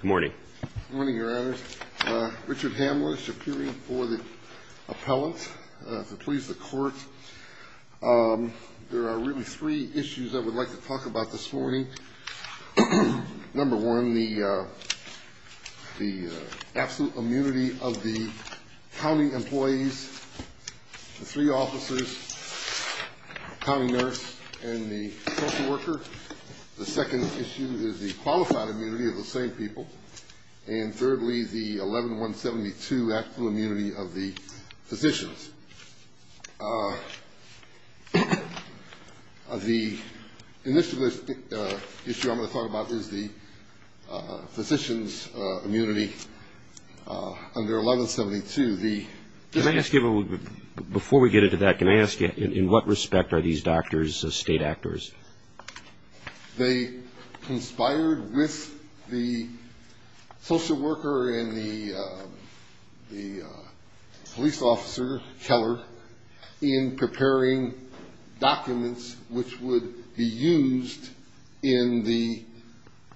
Good morning. Good morning, Your Honors. Richard Hamlisch, appearing for the appellant to please the court. There are really three issues I would like to talk about this morning. Number one, the absolute immunity of the county employees, the three officers, the county nurse and the social worker. The second issue is the qualified immunity of the same people. And thirdly, the 11172 absolute immunity of the physicians. The initial issue I'm going to talk about is the physicians' immunity under 1172. Before we get into that, can I ask you in what respect are these doctors state actors? They conspired with the social worker and the police officer, Keller, in preparing documents which would be used in the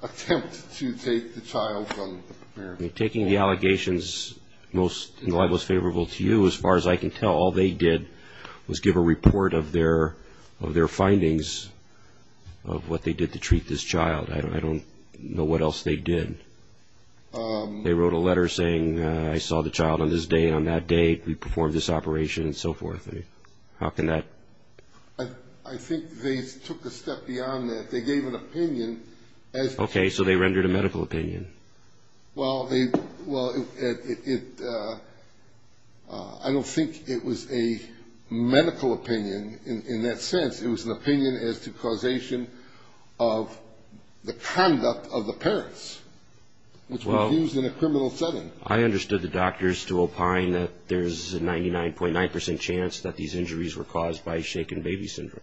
attempt to take the child from America. Taking the allegations in the light most favorable to you, as far as I can tell, all they did was give a report of their findings of what they did to treat this child. I don't know what else they did. They wrote a letter saying, I saw the child on this day and on that day, we performed this operation and so forth. How can that... I think they took a step beyond that. They gave an opinion. Okay, so they rendered a medical opinion. Well, I don't think it was a medical opinion in that sense. It was an opinion as to causation of the conduct of the parents, which was used in a criminal setting. I understood the doctors to opine that there's a 99.9% chance that these injuries were caused by shaken baby syndrome.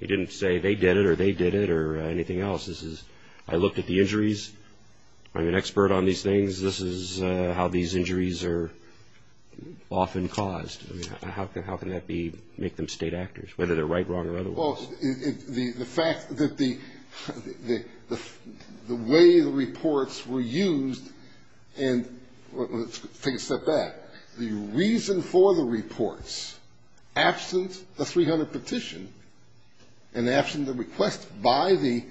He didn't say they did it or they did it or anything else. This is, I looked at the injuries. I'm an expert on these things. This is how these injuries are often caused. How can that make them state actors, whether they're right, wrong, or otherwise? Well, the fact that the way the reports were used, and let's take a step back. The reason for the reports, absent the 300 petition and absent the request by the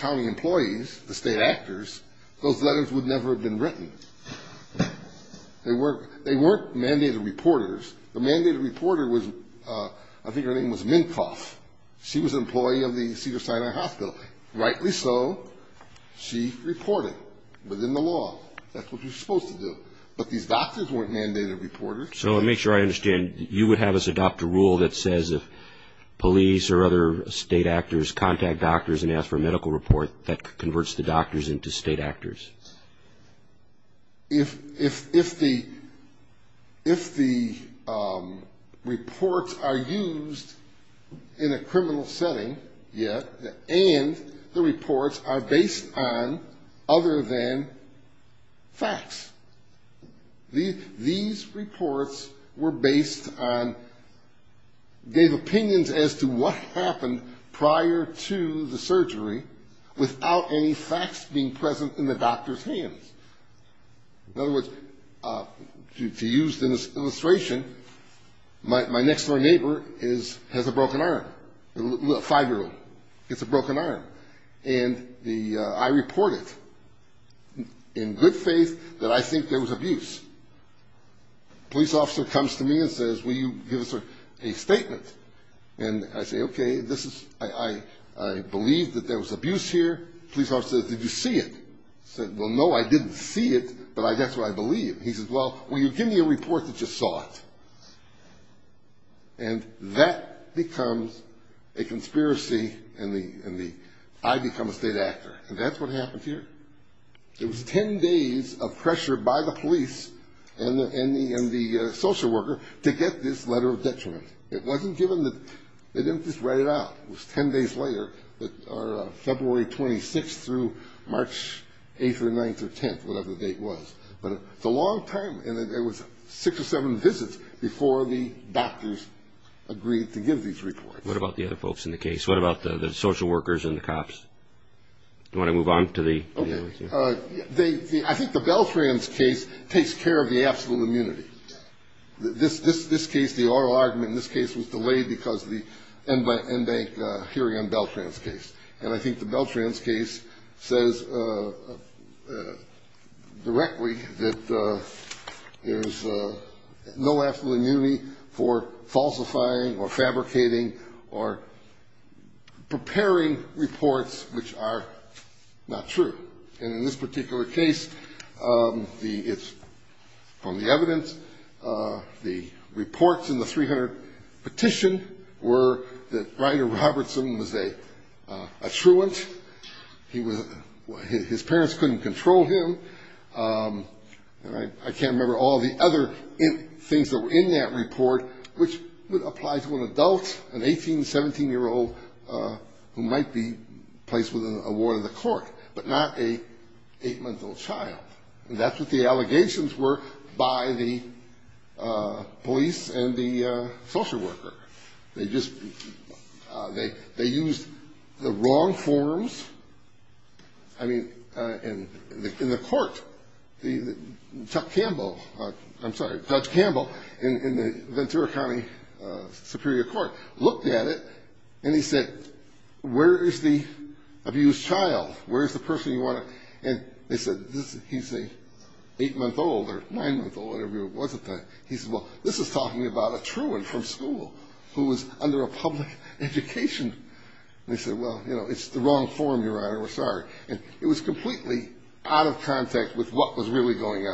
county employees, the state actors, those letters would never have been written. They weren't mandated reporters. The mandated reporter was, I think her name was Minkoff. She was an employee of the Cedars-Sinai Hospital. Rightly so, she reported within the law. That's what you're supposed to do. But these doctors weren't mandated reporters. So to make sure I understand, you would have us adopt a rule that says if police or other state actors contact doctors and ask for a medical report, that converts the doctors into state actors? If the reports are used in a criminal setting, yes, and the reports are based on other than facts. These reports were based on, gave opinions as to what happened prior to the surgery, without any facts being present in the doctor's hands. In other words, to use an illustration, my next-door neighbor has a broken arm, a five-year-old. He has a broken arm. And I report it in good faith that I think there was abuse. A police officer comes to me and says, will you give us a statement? And I say, okay, I believe that there was abuse here. The police officer says, did you see it? I said, well, no, I didn't see it, but that's what I believe. He says, well, will you give me a report that you saw it? And that becomes a conspiracy in the, I become a state actor. And that's what happened here. It was ten days of pressure by the police and the social worker to get this letter of detriment. It wasn't given, they didn't just write it out. It was ten days later, February 26th through March 8th or 9th or 10th, whatever the date was. But it's a long time, and it was six or seven visits before the doctors agreed to give these reports. What about the other folks in the case? What about the social workers and the cops? Do you want to move on to the others? Okay. I think the Beltrans case takes care of the absolute immunity. This case, the oral argument in this case was delayed because of the end-by-end bank hearing on Beltrans' case. And I think the Beltrans case says directly that there's no absolute immunity for falsifying or fabricating or preparing reports which are not true. And in this particular case, it's from the evidence. The reports in the 300 petition were that Ryder Robertson was a truant. His parents couldn't control him. And I can't remember all the other things that were in that report, which would apply to an adult, an 18, 17-year-old, who might be placed within a ward of the court, but not an 8-month-old child. And that's what the allegations were by the police and the social worker. They just used the wrong forms. I mean, in the court, Chuck Campbell, I'm sorry, Judge Campbell in the Ventura County Superior Court looked at it, and he said, where is the abused child, where is the person you want to? And they said, he's an 8-month-old or 9-month-old, whatever it was at the time. He said, well, this is talking about a truant from school who was under a public education. And they said, well, you know, it's the wrong form, Your Honor, we're sorry. And it was completely out of contact with what was really going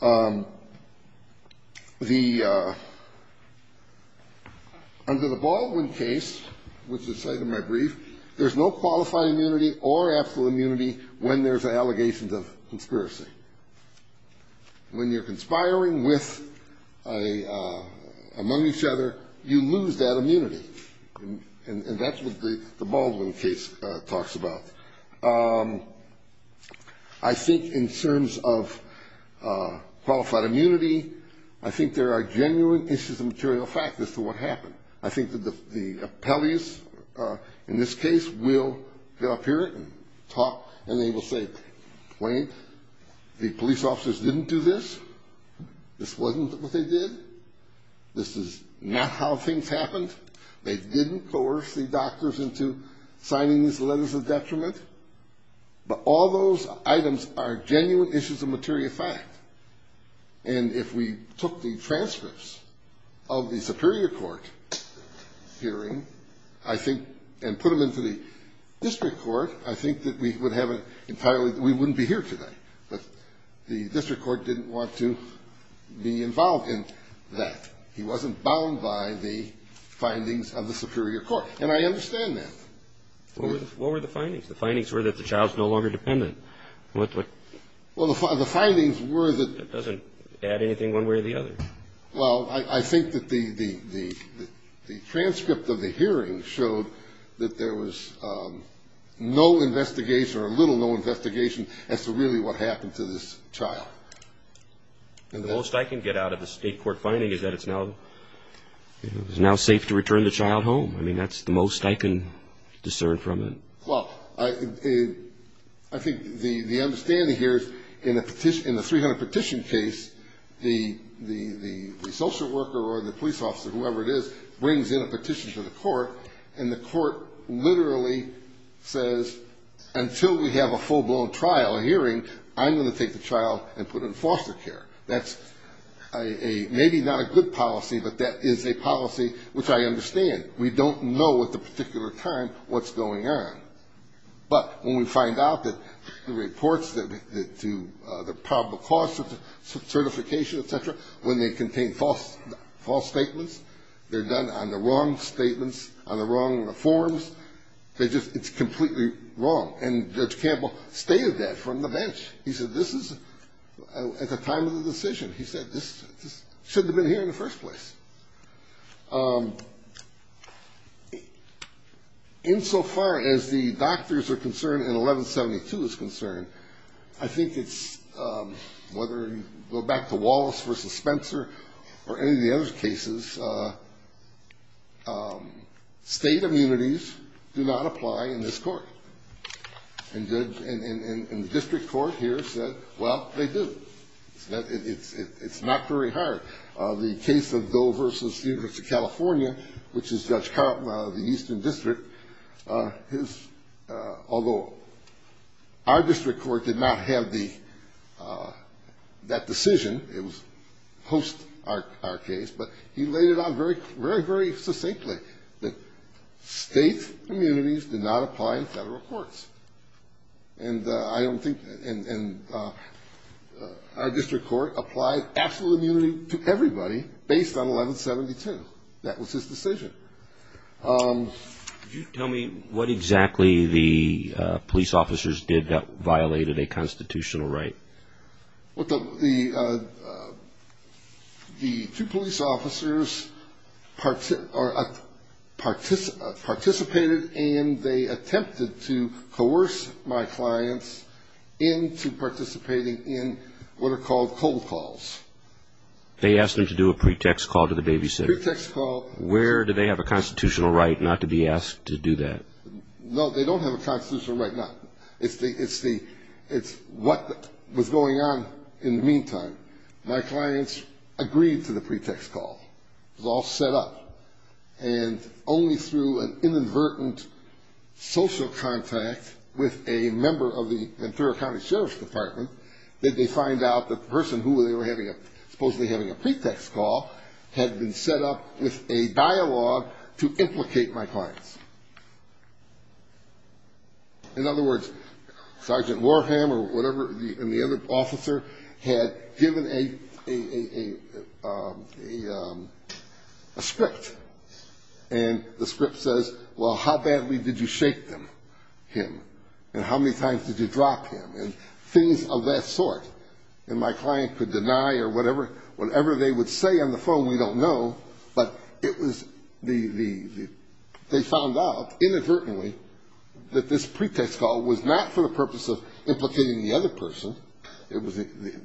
on. The under the Baldwin case, which is cited in my brief, there's no qualified immunity or absolute immunity when there's allegations of conspiracy. When you're conspiring with among each other, you lose that immunity. And that's what the Baldwin case talks about. I think in terms of qualified immunity, I think there are genuine issues of material fact as to what happened. I think that the appellees in this case will get up here and talk, and they will say, Wayne, the police officers didn't do this. This wasn't what they did. This is not how things happened. They didn't coerce the doctors into signing these letters of detriment. But all those items are genuine issues of material fact. And if we took the transcripts of the superior court hearing, I think, and put them into the district court, I think that we would have an entirely we wouldn't be here today. But the district court didn't want to be involved in that. He wasn't bound by the findings of the superior court. And I understand that. What were the findings? The findings were that the child's no longer dependent. Well, the findings were that. It doesn't add anything one way or the other. Well, I think that the transcript of the hearing showed that there was no investigation or a little no investigation as to really what happened to this child. And the most I can get out of the state court finding is that it's now safe to return the child home. I mean, that's the most I can discern from it. Well, I think the understanding here is in the 300 petition case, the social worker or the police officer, whoever it is, brings in a petition to the court, and the court literally says, until we have a full-blown trial, a hearing, I'm going to take the child and put it in foster care. That's a maybe not a good policy, but that is a policy which I understand. We don't know at the particular time what's going on. But when we find out that the reports to the probable cause certification, et cetera, when they contain false statements, they're done on the wrong statements, on the wrong reforms, they just ‑‑ it's completely wrong. And Judge Campbell stated that from the bench. He said this is at the time of the decision. He said this should have been here in the first place. Insofar as the doctors are concerned and 1172 is concerned, I think it's whether you go back to Wallace versus Spencer or any of the other cases, state immunities do not apply in this court. And the district court here said, well, they do. It's not very hard. The case of Doe versus University of California, which is Judge Carleton out of the Eastern District, although our district court did not have that decision, it was post our case, but he laid it out very, very succinctly that state immunities did not apply in federal courts. And I don't think ‑‑ and our district court applied absolute immunity to everybody based on 1172. That was his decision. Can you tell me what exactly the police officers did that violated a constitutional right? Well, the two police officers participated and they attempted to coerce my clients into participating in what are called cold calls. They asked them to do a pretext call to the babysitter. Pretext call. Where do they have a constitutional right not to be asked to do that? No, they don't have a constitutional right. It's what was going on in the meantime. My clients agreed to the pretext call. It was all set up. And only through an inadvertent social contact with a member of the Ventura County Sheriff's Department did they find out that the person who they were supposedly having a pretext call had been set up with a dialogue to implicate my clients. In other words, Sergeant Warham or whatever, and the other officer, had given a script. And the script says, well, how badly did you shake him? And how many times did you drop him? And things of that sort. And my client could deny or whatever they would say on the phone, we don't know, but they found out inadvertently that this pretext call was not for the purpose of implicating the other person. It was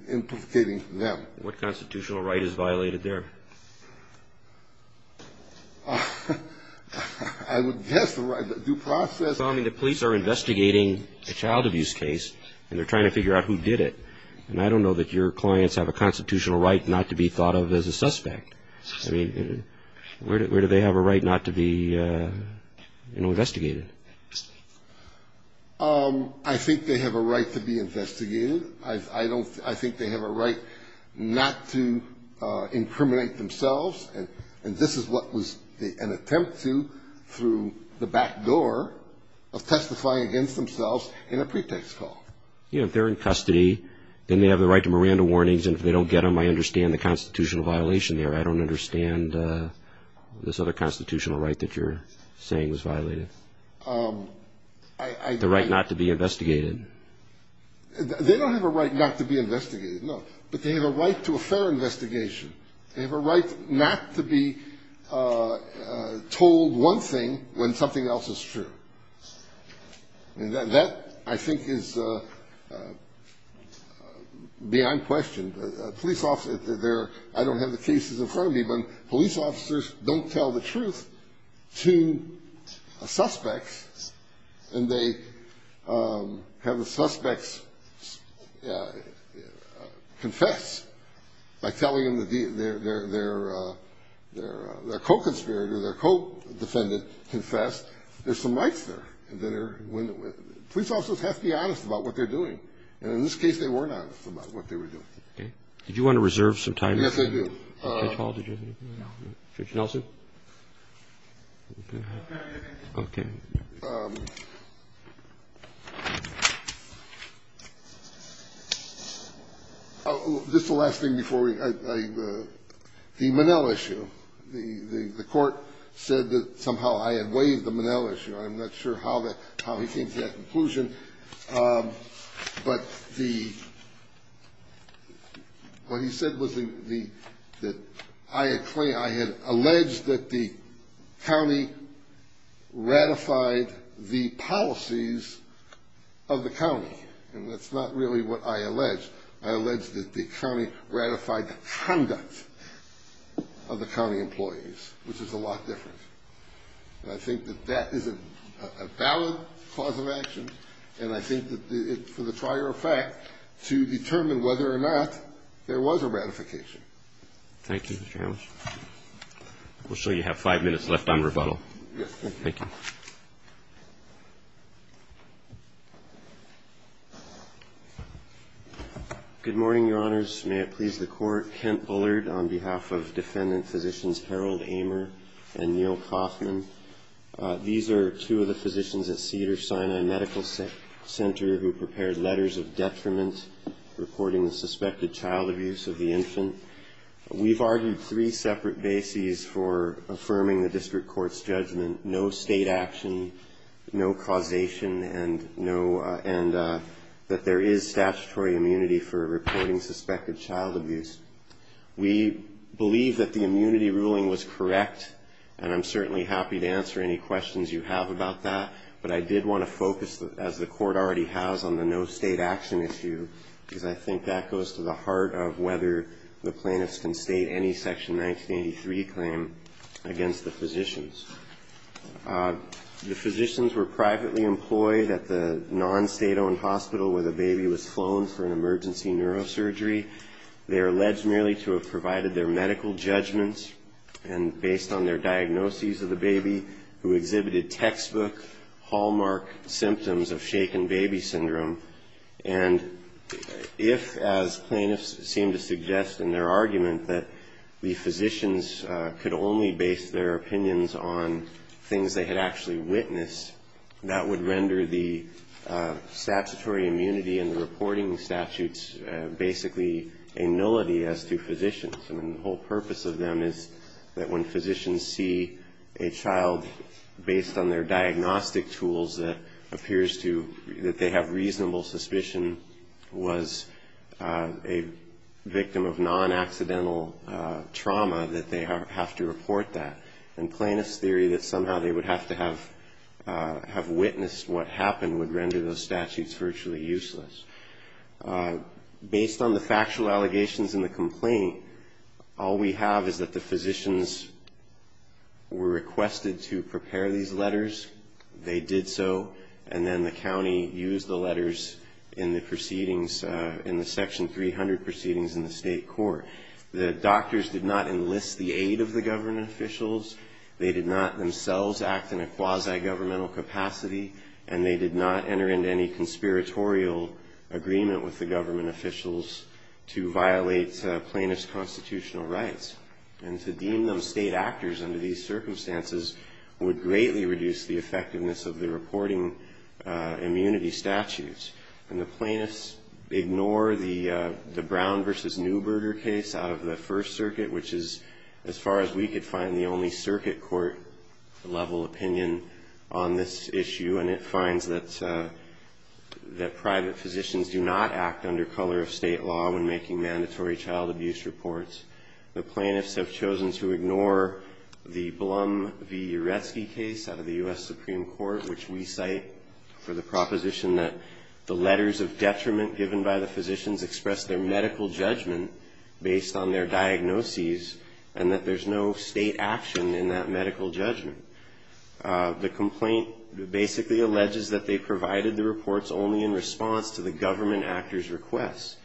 implicating them. What constitutional right is violated there? I would guess the right to due process. I mean, the police are investigating a child abuse case, and they're trying to figure out who did it. And I don't know that your clients have a constitutional right not to be thought of as a suspect. I mean, where do they have a right not to be investigated? I think they have a right to be investigated. I think they have a right not to incriminate themselves. And this is what was an attempt to through the back door of testifying against themselves in a pretext call. You know, if they're in custody, then they have the right to Miranda warnings. And if they don't get them, I understand the constitutional violation there. I don't understand this other constitutional right that you're saying was violated. The right not to be investigated. They don't have a right not to be investigated, no. But they have a right to a fair investigation. They have a right not to be told one thing when something else is true. And that, I think, is beyond question. Police officers, I don't have the cases in front of me, but police officers don't tell the truth to a suspect. And they have the suspects confess by telling them their co-conspirator, their co-defendant confessed. There's some rights there. Police officers have to be honest about what they're doing. And in this case, they weren't honest about what they were doing. Okay. Did you want to reserve some time? Yes, I do. Judge Hall, did you have anything? No. Judge Nelson? Okay. Okay. Just the last thing before we go. The Monell issue. The court said that somehow I had waived the Monell issue. I'm not sure how he came to that conclusion. But what he said was that I had alleged that the county ratified the policies of the county. And that's not really what I alleged. I alleged that the county ratified the conduct of the county employees, which is a lot different. And I think that that is a valid cause of action. And I think that for the trier of fact to determine whether or not there was a ratification. Thank you, Judge. We'll show you have five minutes left on rebuttal. Yes, thank you. Thank you. Good morning, Your Honors. May it please the Court. Kent Bullard on behalf of defendant physicians Harold Amer and Neil Kaufman. These are two of the physicians at Cedars-Sinai Medical Center who prepared letters of detriment reporting the suspected child abuse of the infant. We've argued three separate bases for affirming the district court's judgment. No state action, no causation, and that there is statutory immunity for reporting suspected child abuse. We believe that the immunity ruling was correct, and I'm certainly happy to answer any questions you have about that. But I did want to focus, as the court already has, on the no state action issue, because I think that goes to the heart of whether the plaintiffs can state any Section 1983 claim against the physicians. The physicians were privately employed at the non-state-owned hospital where the baby was flown for an emergency neurosurgery. They are alleged merely to have provided their medical judgments, and based on their diagnoses of the baby who exhibited textbook hallmark symptoms of shaken baby syndrome and if, as plaintiffs seem to suggest in their argument, that the physicians could only base their opinions on things they had actually witnessed, that would render the statutory immunity and the reporting statutes basically a nullity as to physicians. I mean, the whole purpose of them is that when physicians see a child based on their diagnostic tools that appears to – that they have reasonable suspicion was a victim of non-accidental trauma, that they have to report that. And plaintiff's theory that somehow they would have to have witnessed what happened would render those statutes virtually useless. Based on the factual allegations in the complaint, all we have is that the physicians were requested to prepare these letters. They did so, and then the county used the letters in the proceedings, in the Section 300 proceedings in the state court. The doctors did not enlist the aid of the government officials. They did not themselves act in a quasi-governmental capacity, and they did not enter into any conspiratorial agreement with the government officials to violate plaintiff's constitutional rights. And to deem those state actors under these circumstances would greatly reduce the effectiveness of the reporting immunity statutes. And the plaintiffs ignore the Brown v. Neuberger case out of the First Circuit, which is, as far as we could find, the only circuit court-level opinion on this issue, and it finds that private physicians do not act under color of state law when making mandatory child abuse reports. The plaintiffs have chosen to ignore the Blum v. Uretsky case out of the U.S. Supreme Court, which we cite for the proposition that the letters of detriment given by the physicians express their medical judgment based on their diagnoses, and that there's no state action in that medical judgment. The complaint basically alleges that they provided the reports only in response to the government actors' requests.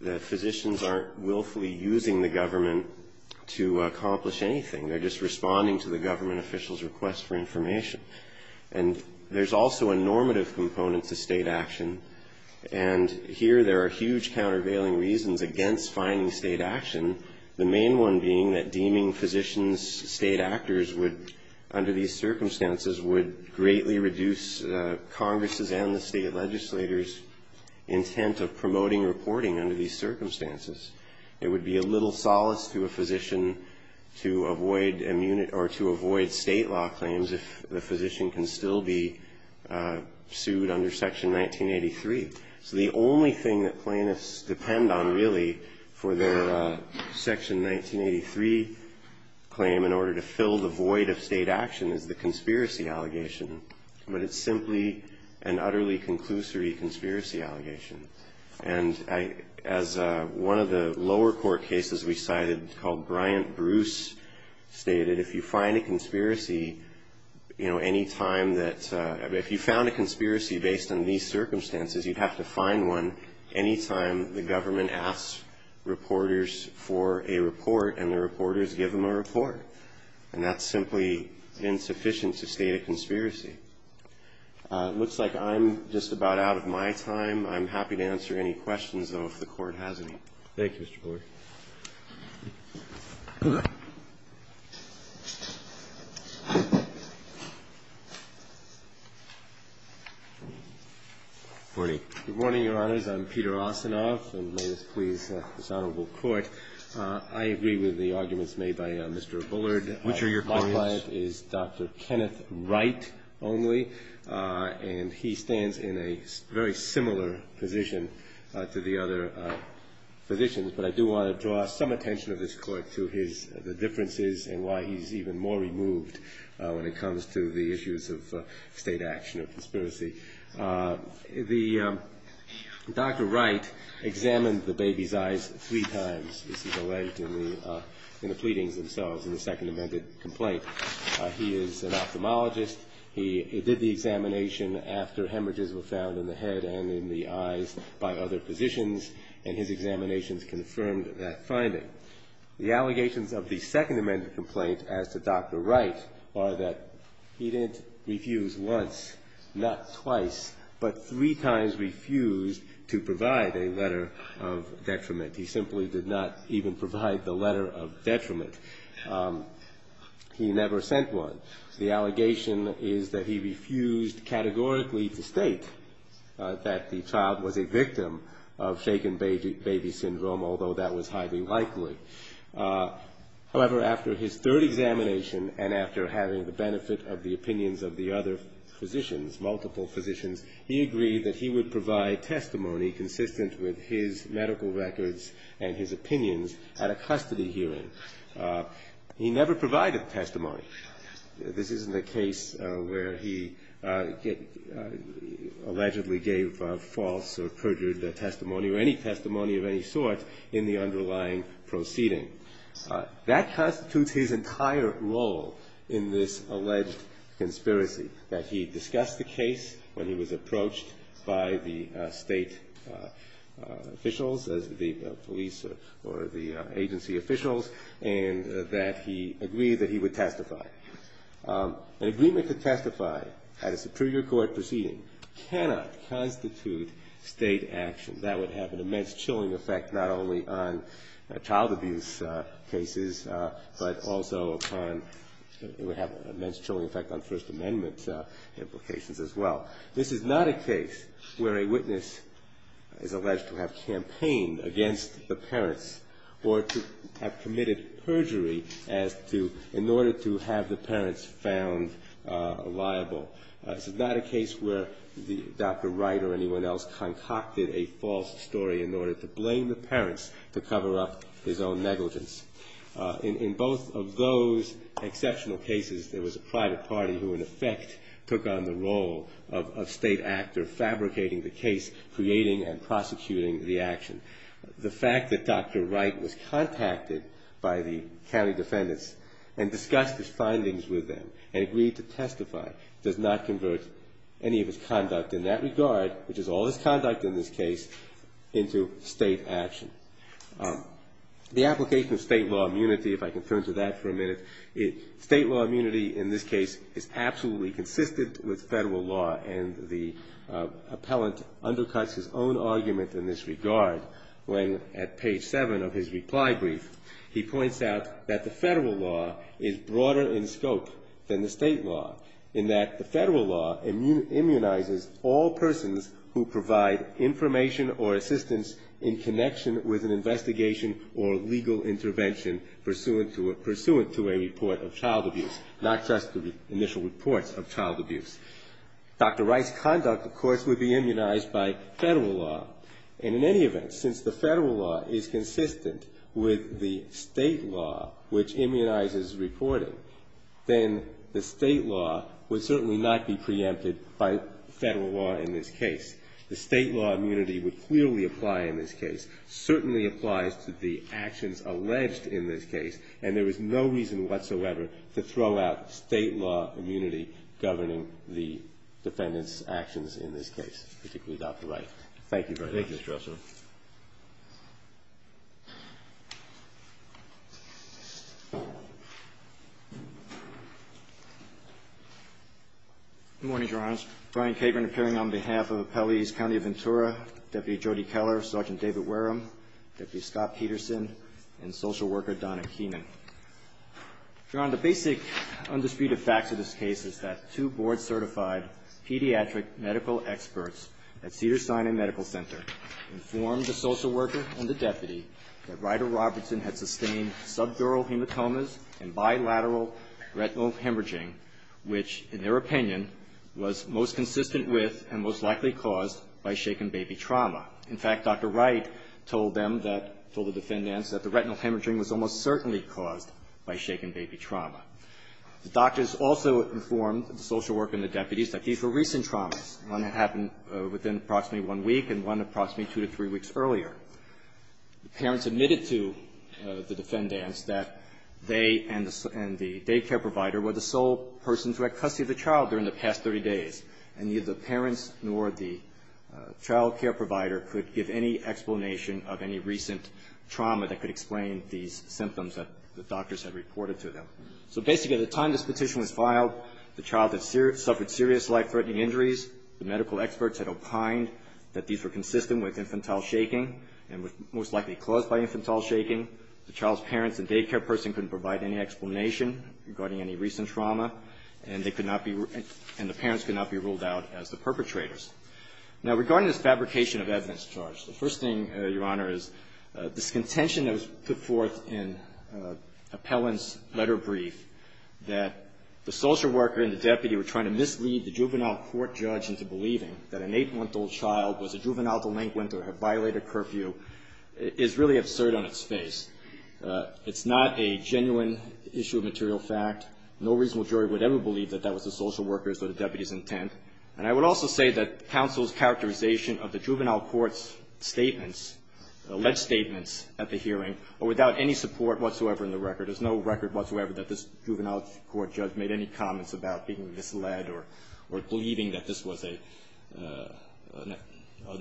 The physicians aren't willfully using the government to accomplish anything. They're just responding to the government officials' requests for information. And there's also a normative component to state action, and here there are huge countervailing reasons against finding state action, the main one being that deeming physicians state actors would, under these circumstances, would greatly reduce Congress' and the state legislator's intent of promoting reporting under these circumstances. It would be a little solace to a physician to avoid state law claims if the physician can still be sued under Section 1983. So the only thing that plaintiffs depend on, really, for their Section 1983 claim in order to fill the void of state action is the conspiracy allegation, but it's simply an utterly conclusory conspiracy allegation. And as one of the lower court cases we cited called Bryant-Bruce stated, if you find a conspiracy, you know, any time that you found a conspiracy based on these circumstances, you'd have to find one any time the government asks reporters for a report and the reporters give them a report. And that's simply insufficient to state a conspiracy. It looks like I'm just about out of my time. I'm happy to answer any questions, though, if the Court has any. Thank you, Mr. Bullard. Good morning. Good morning, Your Honors. I'm Peter Osinoff, and may this please this Honorable Court. I agree with the arguments made by Mr. Bullard. Which are your clients? My client is Dr. Kenneth Wright only, and he stands in a very similar position to the other physicians. But I do want to draw some attention of this Court to the differences and why he's even more removed when it comes to the issues of state action or conspiracy. Dr. Wright examined the baby's eyes three times. This is alleged in the pleadings themselves in the Second Amendment complaint. He is an ophthalmologist. He did the examination after hemorrhages were found in the head and in the eyes by other physicians, and his examinations confirmed that finding. The allegations of the Second Amendment complaint as to Dr. Wright are that he didn't refuse once, not twice, but three times refused to provide a letter of detriment. He simply did not even provide the letter of detriment. He never sent one. The allegation is that he refused categorically to state that the child was a victim of shaken baby syndrome, although that was highly likely. However, after his third examination and after having the benefit of the opinions of the other physicians, multiple physicians, he agreed that he would provide testimony consistent with his medical records and his opinions at a custody hearing. He never provided testimony. This isn't a case where he allegedly gave false or perjured testimony or any testimony of any sort in the underlying proceeding. That constitutes his entire role in this alleged conspiracy, that he discussed the case when he was approached by the state officials, the police or the agency officials, and that he agreed that he would testify. An agreement to testify at a superior court proceeding cannot constitute state action. That would have an immense chilling effect not only on child abuse cases, but also it would have an immense chilling effect on First Amendment implications as well. This is not a case where a witness is alleged to have campaigned against the parents or to have committed perjury in order to have the parents found liable. This is not a case where Dr. Wright or anyone else concocted a false story in order to blame the parents to cover up his own negligence. In both of those exceptional cases, there was a private party who in effect took on the role of state actor, fabricating the case, creating and prosecuting the action. The fact that Dr. Wright was contacted by the county defendants and discussed his findings with them and agreed to testify does not convert any of his conduct in that regard, which is all his conduct in this case, into state action. The application of state law immunity, if I can turn to that for a minute, state law immunity in this case is absolutely consistent with federal law, and the appellant undercuts his own argument in this regard when at page 7 of his reply brief, he points out that the federal law is broader in scope than the state law, in that the federal law immunizes all persons who provide information or assistance in connection with an investigation or legal intervention pursuant to a report of child abuse, not just the initial reports of child abuse. Dr. Wright's conduct, of course, would be immunized by federal law, and in any event, since the federal law is consistent with the state law, which immunizes reporting, then the state law would certainly not be preempted by federal law in this case. The state law immunity would clearly apply in this case, certainly applies to the actions alleged in this case, and there is no reason whatsoever to throw out state law immunity governing the defendants' actions in this case, particularly Dr. Wright. Thank you very much. Thank you, Mr. Russell. Good morning, Your Honor. Brian Capron appearing on behalf of Appellees County of Ventura, Deputy Jody Keller, Sergeant David Wareham, Deputy Scott Peterson, and Social Worker Donna Keenan. Your Honor, the basic undisputed fact of this case is that two board-certified pediatric medical experts at Cedars-Sinai Medical Center informed the social worker and the deputy that Ryder-Robertson had sustained subdural hematomas and bilateral retinal hemorrhaging, which, in their opinion, was most consistent with and most likely caused by shaken baby trauma. In fact, Dr. Wright told them that, told the defendants, that the retinal hemorrhaging was almost certainly caused by shaken baby trauma. The doctors also informed the social worker and the deputies that these were recent traumas, one that happened within approximately one week and one approximately two to three weeks earlier. The parents admitted to the defendants that they and the daycare provider were the sole persons who had custody of the child during the past 30 days, and neither the parents nor the child care provider could give any explanation of any recent trauma that could explain these symptoms that the doctors had reported to them. So basically, at the time this petition was filed, the child had suffered serious life-threatening injuries. The medical experts had opined that these were consistent with infantile shaking and were most likely caused by infantile shaking. The child's parents and daycare person couldn't provide any explanation regarding any recent trauma, and they could not be – and the parents could not be ruled out as the perpetrators. Now, regarding this fabrication of evidence charge, the first thing, Your Honor, is this contention that was put forth in Appellant's letter brief, that the social worker and the deputy were trying to mislead the juvenile court judge into believing that an eight-month-old child was a juvenile delinquent or had violated curfew, is really absurd on its face. It's not a genuine issue of material fact. No reasonable jury would ever believe that that was the social worker's or the deputy's intent. And I would also say that counsel's characterization of the juvenile court's statements, alleged statements at the hearing, are without any support whatsoever in the record. There's no record whatsoever that this juvenile court judge made any comments about being misled or believing that this was an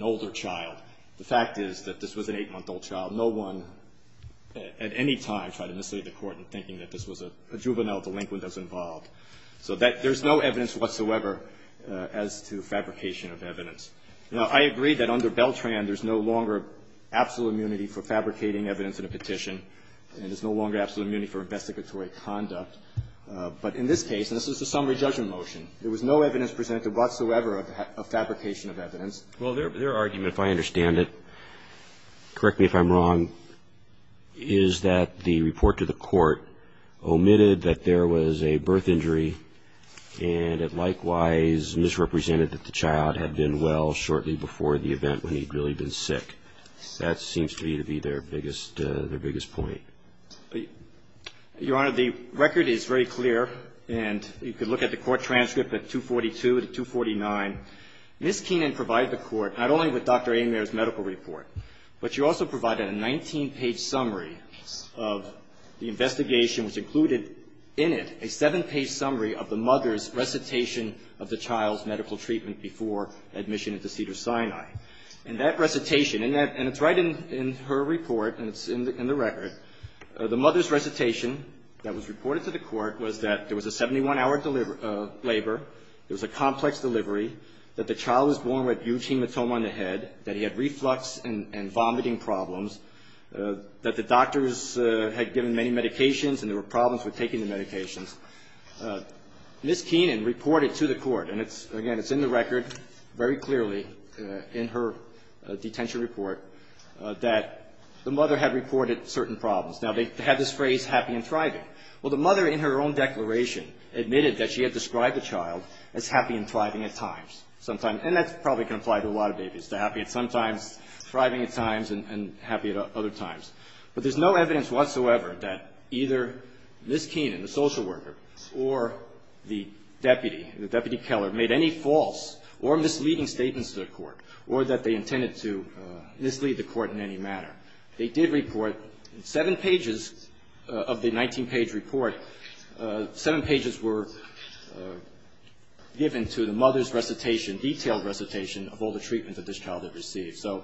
older child. The fact is that this was an eight-month-old child. No one at any time tried to mislead the court in thinking that this was a juvenile delinquent that was involved. So there's no evidence whatsoever as to fabrication of evidence. Now, I agree that under Beltran there's no longer absolute immunity for fabricating evidence in a petition and there's no longer absolute immunity for investigatory conduct. But in this case, and this is a summary judgment motion, there was no evidence presented whatsoever of fabrication of evidence. Well, their argument, if I understand it, correct me if I'm wrong, is that the report to the court omitted that there was a birth injury and it likewise misrepresented that the child had been well shortly before the event when he'd really been sick. That seems to me to be their biggest point. Your Honor, the record is very clear, and you can look at the court transcript at 242 to 249. Ms. Keenan provided the court not only with Dr. Ameyer's medical report, but she also provided a 19-page summary of the investigation, which included in it a seven-page summary of the mother's recitation of the child's medical treatment before admission into Cedars-Sinai. And that recitation, and it's right in her report, and it's in the record, the mother's recitation that was reported to the court was that there was a 71-hour labor, there was a complex delivery, that the child was born with huge hematoma on the head, that he had reflux and vomiting problems, that the doctors had given many medications and there were problems with taking the medications. Ms. Keenan reported to the court, and again, it's in the record very clearly in her detention report, that the mother had reported certain problems. Now, they had this phrase, happy and thriving. Well, the mother, in her own declaration, admitted that she had described the child as happy and thriving at times, sometimes, and that probably can apply to a lot of babies, the happy at sometimes, thriving at times, and happy at other times. But there's no evidence whatsoever that either Ms. Keenan, the social worker, or the deputy, the deputy keller, made any false or misleading statements to the court or that they intended to mislead the court in any manner. They did report in seven pages of the 19-page report, seven pages were given to the mother's recitation, detailed recitation, of all the treatments that this child had received. So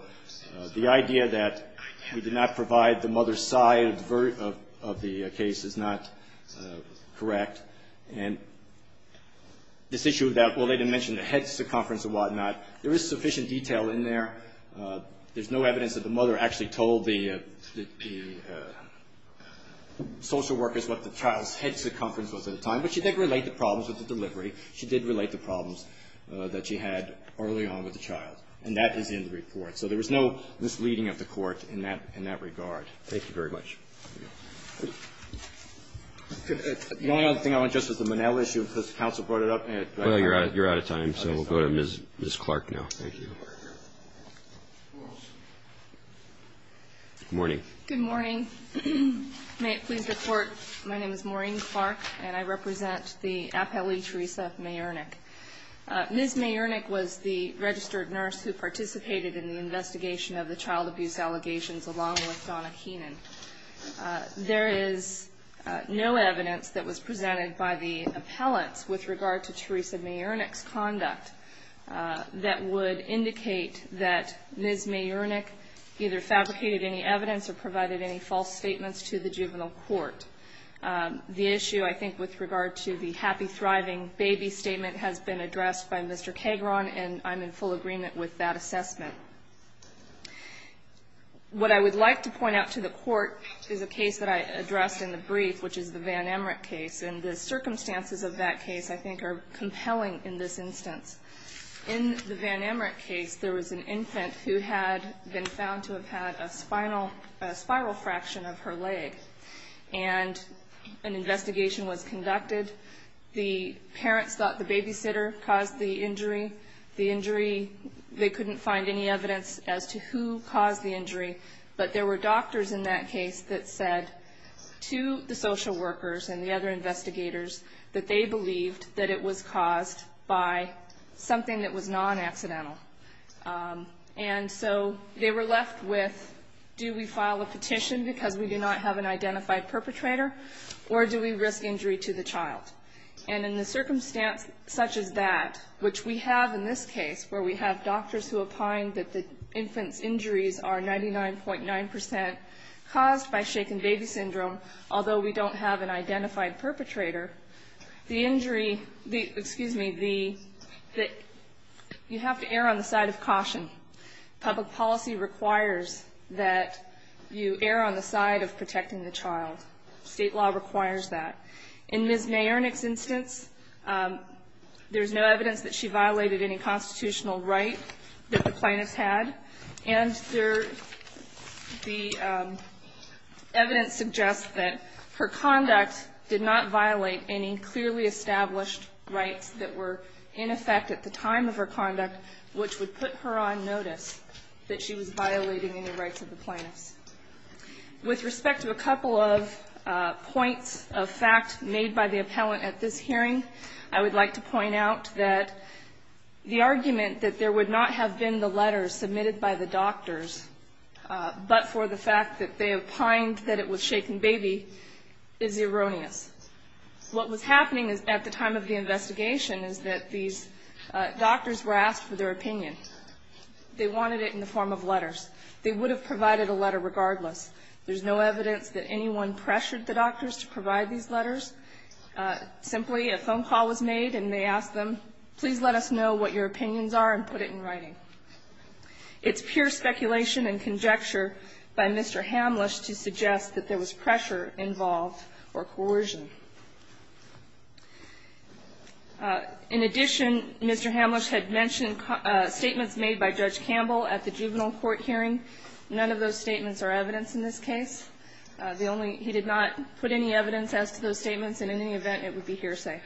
the idea that we did not provide the mother's side of the case is not correct. And this issue about, well, they didn't mention the head circumference and whatnot, there is sufficient detail in there. There's no evidence that the mother actually told the social workers what the child's head circumference was at the time, but she did relate the problems with the delivery. She did relate the problems that she had early on with the child. And that is in the report. So there was no misleading of the court in that regard. Thank you very much. The only other thing I want to address is the Monell issue, because counsel brought it up. Well, you're out of time, so we'll go to Ms. Clark now. Thank you. Good morning. Good morning. May it please the Court, my name is Maureen Clark, and I represent the appellee Theresa Mayernik. Ms. Mayernik was the registered nurse who participated in the investigation of the child abuse allegations along with Donna Keenan. There is no evidence that was presented by the appellants with regard to Ms. Mayernik either fabricated any evidence or provided any false statements to the juvenile court. The issue, I think, with regard to the happy, thriving baby statement has been addressed by Mr. Kegron, and I'm in full agreement with that assessment. What I would like to point out to the Court is a case that I addressed in the brief, which is the Van Emmerich case, and the circumstances of that case I think are compelling in this instance. In the Van Emmerich case, there was an infant who had been found to have had a spiral fraction of her leg, and an investigation was conducted. The parents thought the babysitter caused the injury. They couldn't find any evidence as to who caused the injury, but there were doctors in that case that said to the social workers and the other investigators that they believed that it was caused by something that was non-accidental. And so they were left with, do we file a petition because we do not have an identified perpetrator, or do we risk injury to the child? And in the circumstance such as that, which we have in this case, where we have doctors who opine that the infant's injuries are 99.9% caused by shaken baby syndrome, although we don't have an identified perpetrator, the injury, the, excuse me, the, you have to err on the side of caution. Public policy requires that you err on the side of protecting the child. State law requires that. In Ms. Mayernick's instance, there's no evidence that she violated any constitutional right that the plaintiffs had. And the evidence suggests that her conduct did not violate any clearly established rights that were in effect at the time of her conduct, which would put her on notice that she was violating any rights of the plaintiffs. With respect to a couple of points of fact made by the appellant at this hearing, I would like to point out that the argument that there would not have been the letters submitted by the doctors but for the fact that they opined that it was shaken baby is erroneous. What was happening at the time of the investigation is that these doctors were asked for their opinion. They wanted it in the form of letters. They would have provided a letter regardless. Simply, a phone call was made and they asked them, please let us know what your opinions are and put it in writing. It's pure speculation and conjecture by Mr. Hamlisch to suggest that there was pressure involved or coercion. In addition, Mr. Hamlisch had mentioned statements made by Judge Campbell at the juvenile court hearing. None of those statements are evidence in this case. The only he did not put any evidence as to those statements. And in any event, it would be hearsay.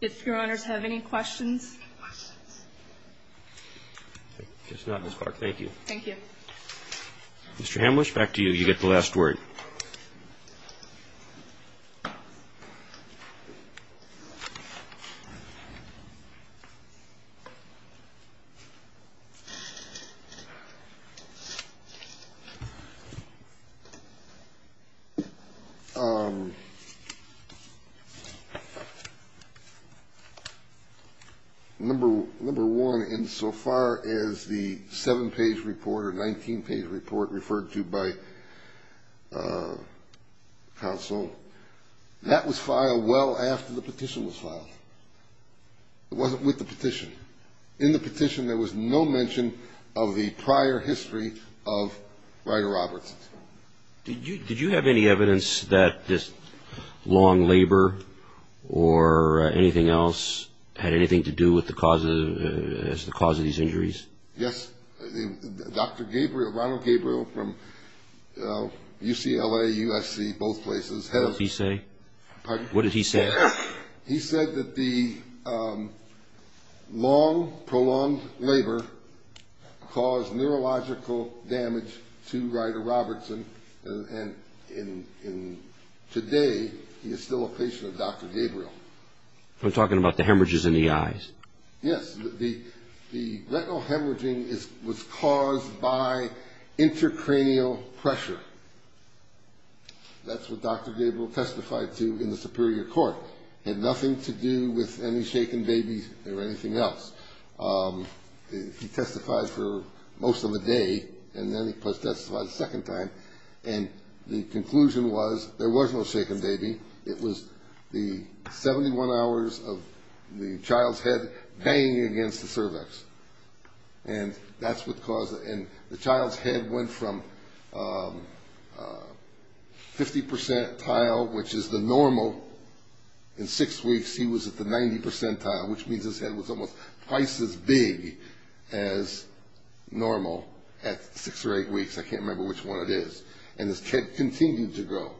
If Your Honors have any questions. Thank you. Thank you. Mr. Hamlisch, back to you. You get the last word. Number one, insofar as the seven-page report or 19-page report referred to by counsel, that was filed well after the petition was filed. It wasn't with the petition. In the petition, there was no mention of the prior history of Ryder Roberts. Did you have any evidence that this long labor or anything else had anything to do with the cause of these injuries? Yes. Dr. Gabriel, Ronald Gabriel from UCLA, USC, both places. What did he say? Pardon? What did he say? He said that the long, prolonged labor caused neurological damage to Ryder Robertson. And today, he is still a patient of Dr. Gabriel. I'm talking about the hemorrhages in the eyes. Yes. The retinal hemorrhaging was caused by intracranial pressure. That's what Dr. Gabriel testified to in the Superior Court. It had nothing to do with any shaken babies or anything else. He testified for most of the day, and then he testified a second time. And the conclusion was there was no shaken baby. It was the 71 hours of the child's head banging against the cervix. And that's what caused it. And the child's head went from 50 percentile, which is the normal, in six weeks, he was at the 90 percentile, which means his head was almost twice as big as normal at six or eight weeks. I can't remember which one it is. And his head continued to grow.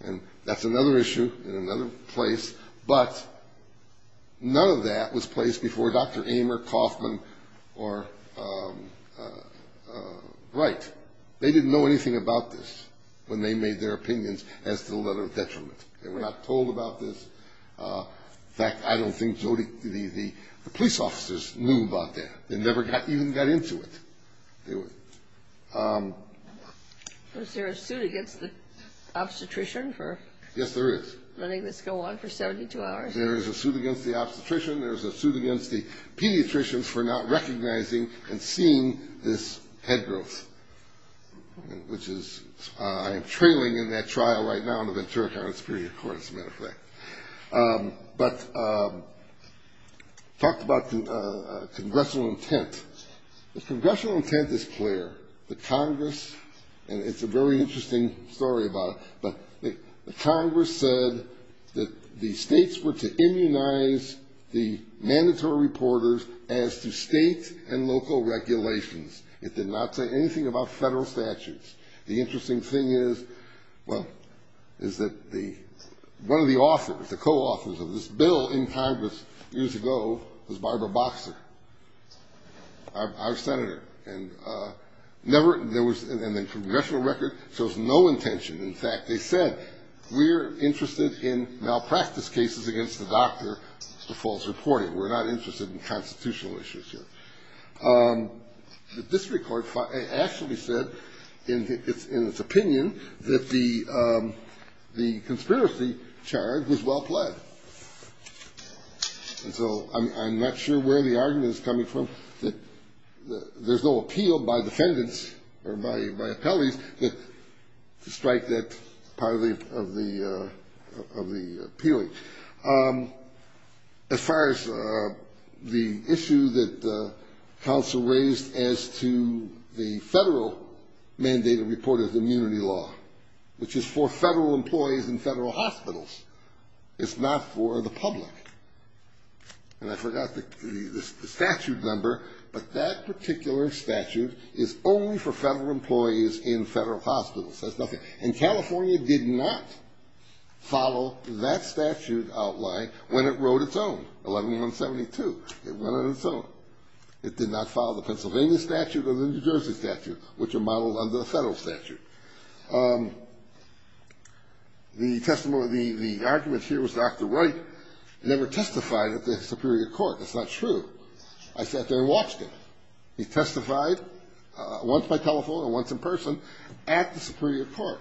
And that's another issue in another place. But none of that was placed before Dr. Amer, Kaufman, or Wright. They didn't know anything about this when they made their opinions as to the letter of detriment. They were not told about this. In fact, I don't think the police officers knew about that. They never even got into it. Was there a suit against the obstetrician for letting this go on for 72 hours? Yes, there is. There is a suit against the obstetrician. There is a suit against the pediatricians for not recognizing and seeing this head growth, which I am trailing in that trial right now in the Ventura County Superior Court, as a matter of fact. But talked about congressional intent. The congressional intent is clear. The Congress, and it's a very interesting story about it, but the Congress said that the states were to immunize the mandatory reporters as to state and local regulations. It did not say anything about federal statutes. The interesting thing is, well, is that one of the authors, the co-authors of this bill in Congress years ago was Barbara Boxer, our senator. And never, there was, and the congressional record shows no intention. In fact, they said, we're interested in malpractice cases against the doctor for false reporting. We're not interested in constitutional issues here. The district court actually said in its opinion that the conspiracy charge was well pled. And so I'm not sure where the argument is coming from, that there's no appeal by defendants or by appellees to strike that part of the appealing. As far as the issue that counsel raised as to the federal mandated report of immunity law, which is for federal employees in federal hospitals. It's not for the public. And I forgot the statute number, but that particular statute is only for federal employees in federal hospitals. It says nothing. And California did not follow that statute outline when it wrote its own, 11-172. It went on its own. It did not follow the Pennsylvania statute or the New Jersey statute, which are modeled under the federal statute. The argument here was Dr. Wright never testified at the superior court. That's not true. I sat there and watched him. He testified once by telephone and once in person at the superior court.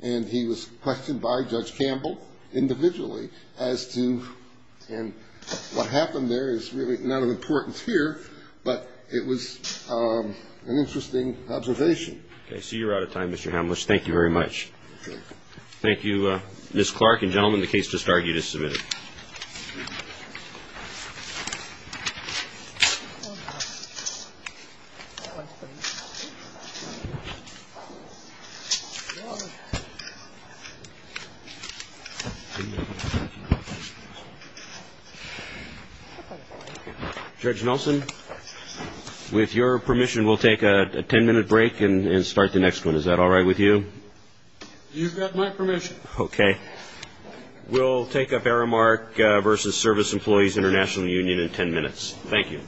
And he was questioned by Judge Campbell individually as to what happened there is really not of importance here, but it was an interesting observation. Okay. So you're out of time, Mr. Hamlisch. Thank you very much. Thank you. Thank you, Ms. Clark. And, gentlemen, the case just argued is submitted. Thank you. Judge Nelson, with your permission, we'll take a ten-minute break and start the next one. Is that all right with you? You've got my permission. Okay. We'll take up Aramark v. Service Employees International Union in ten minutes. Thank you.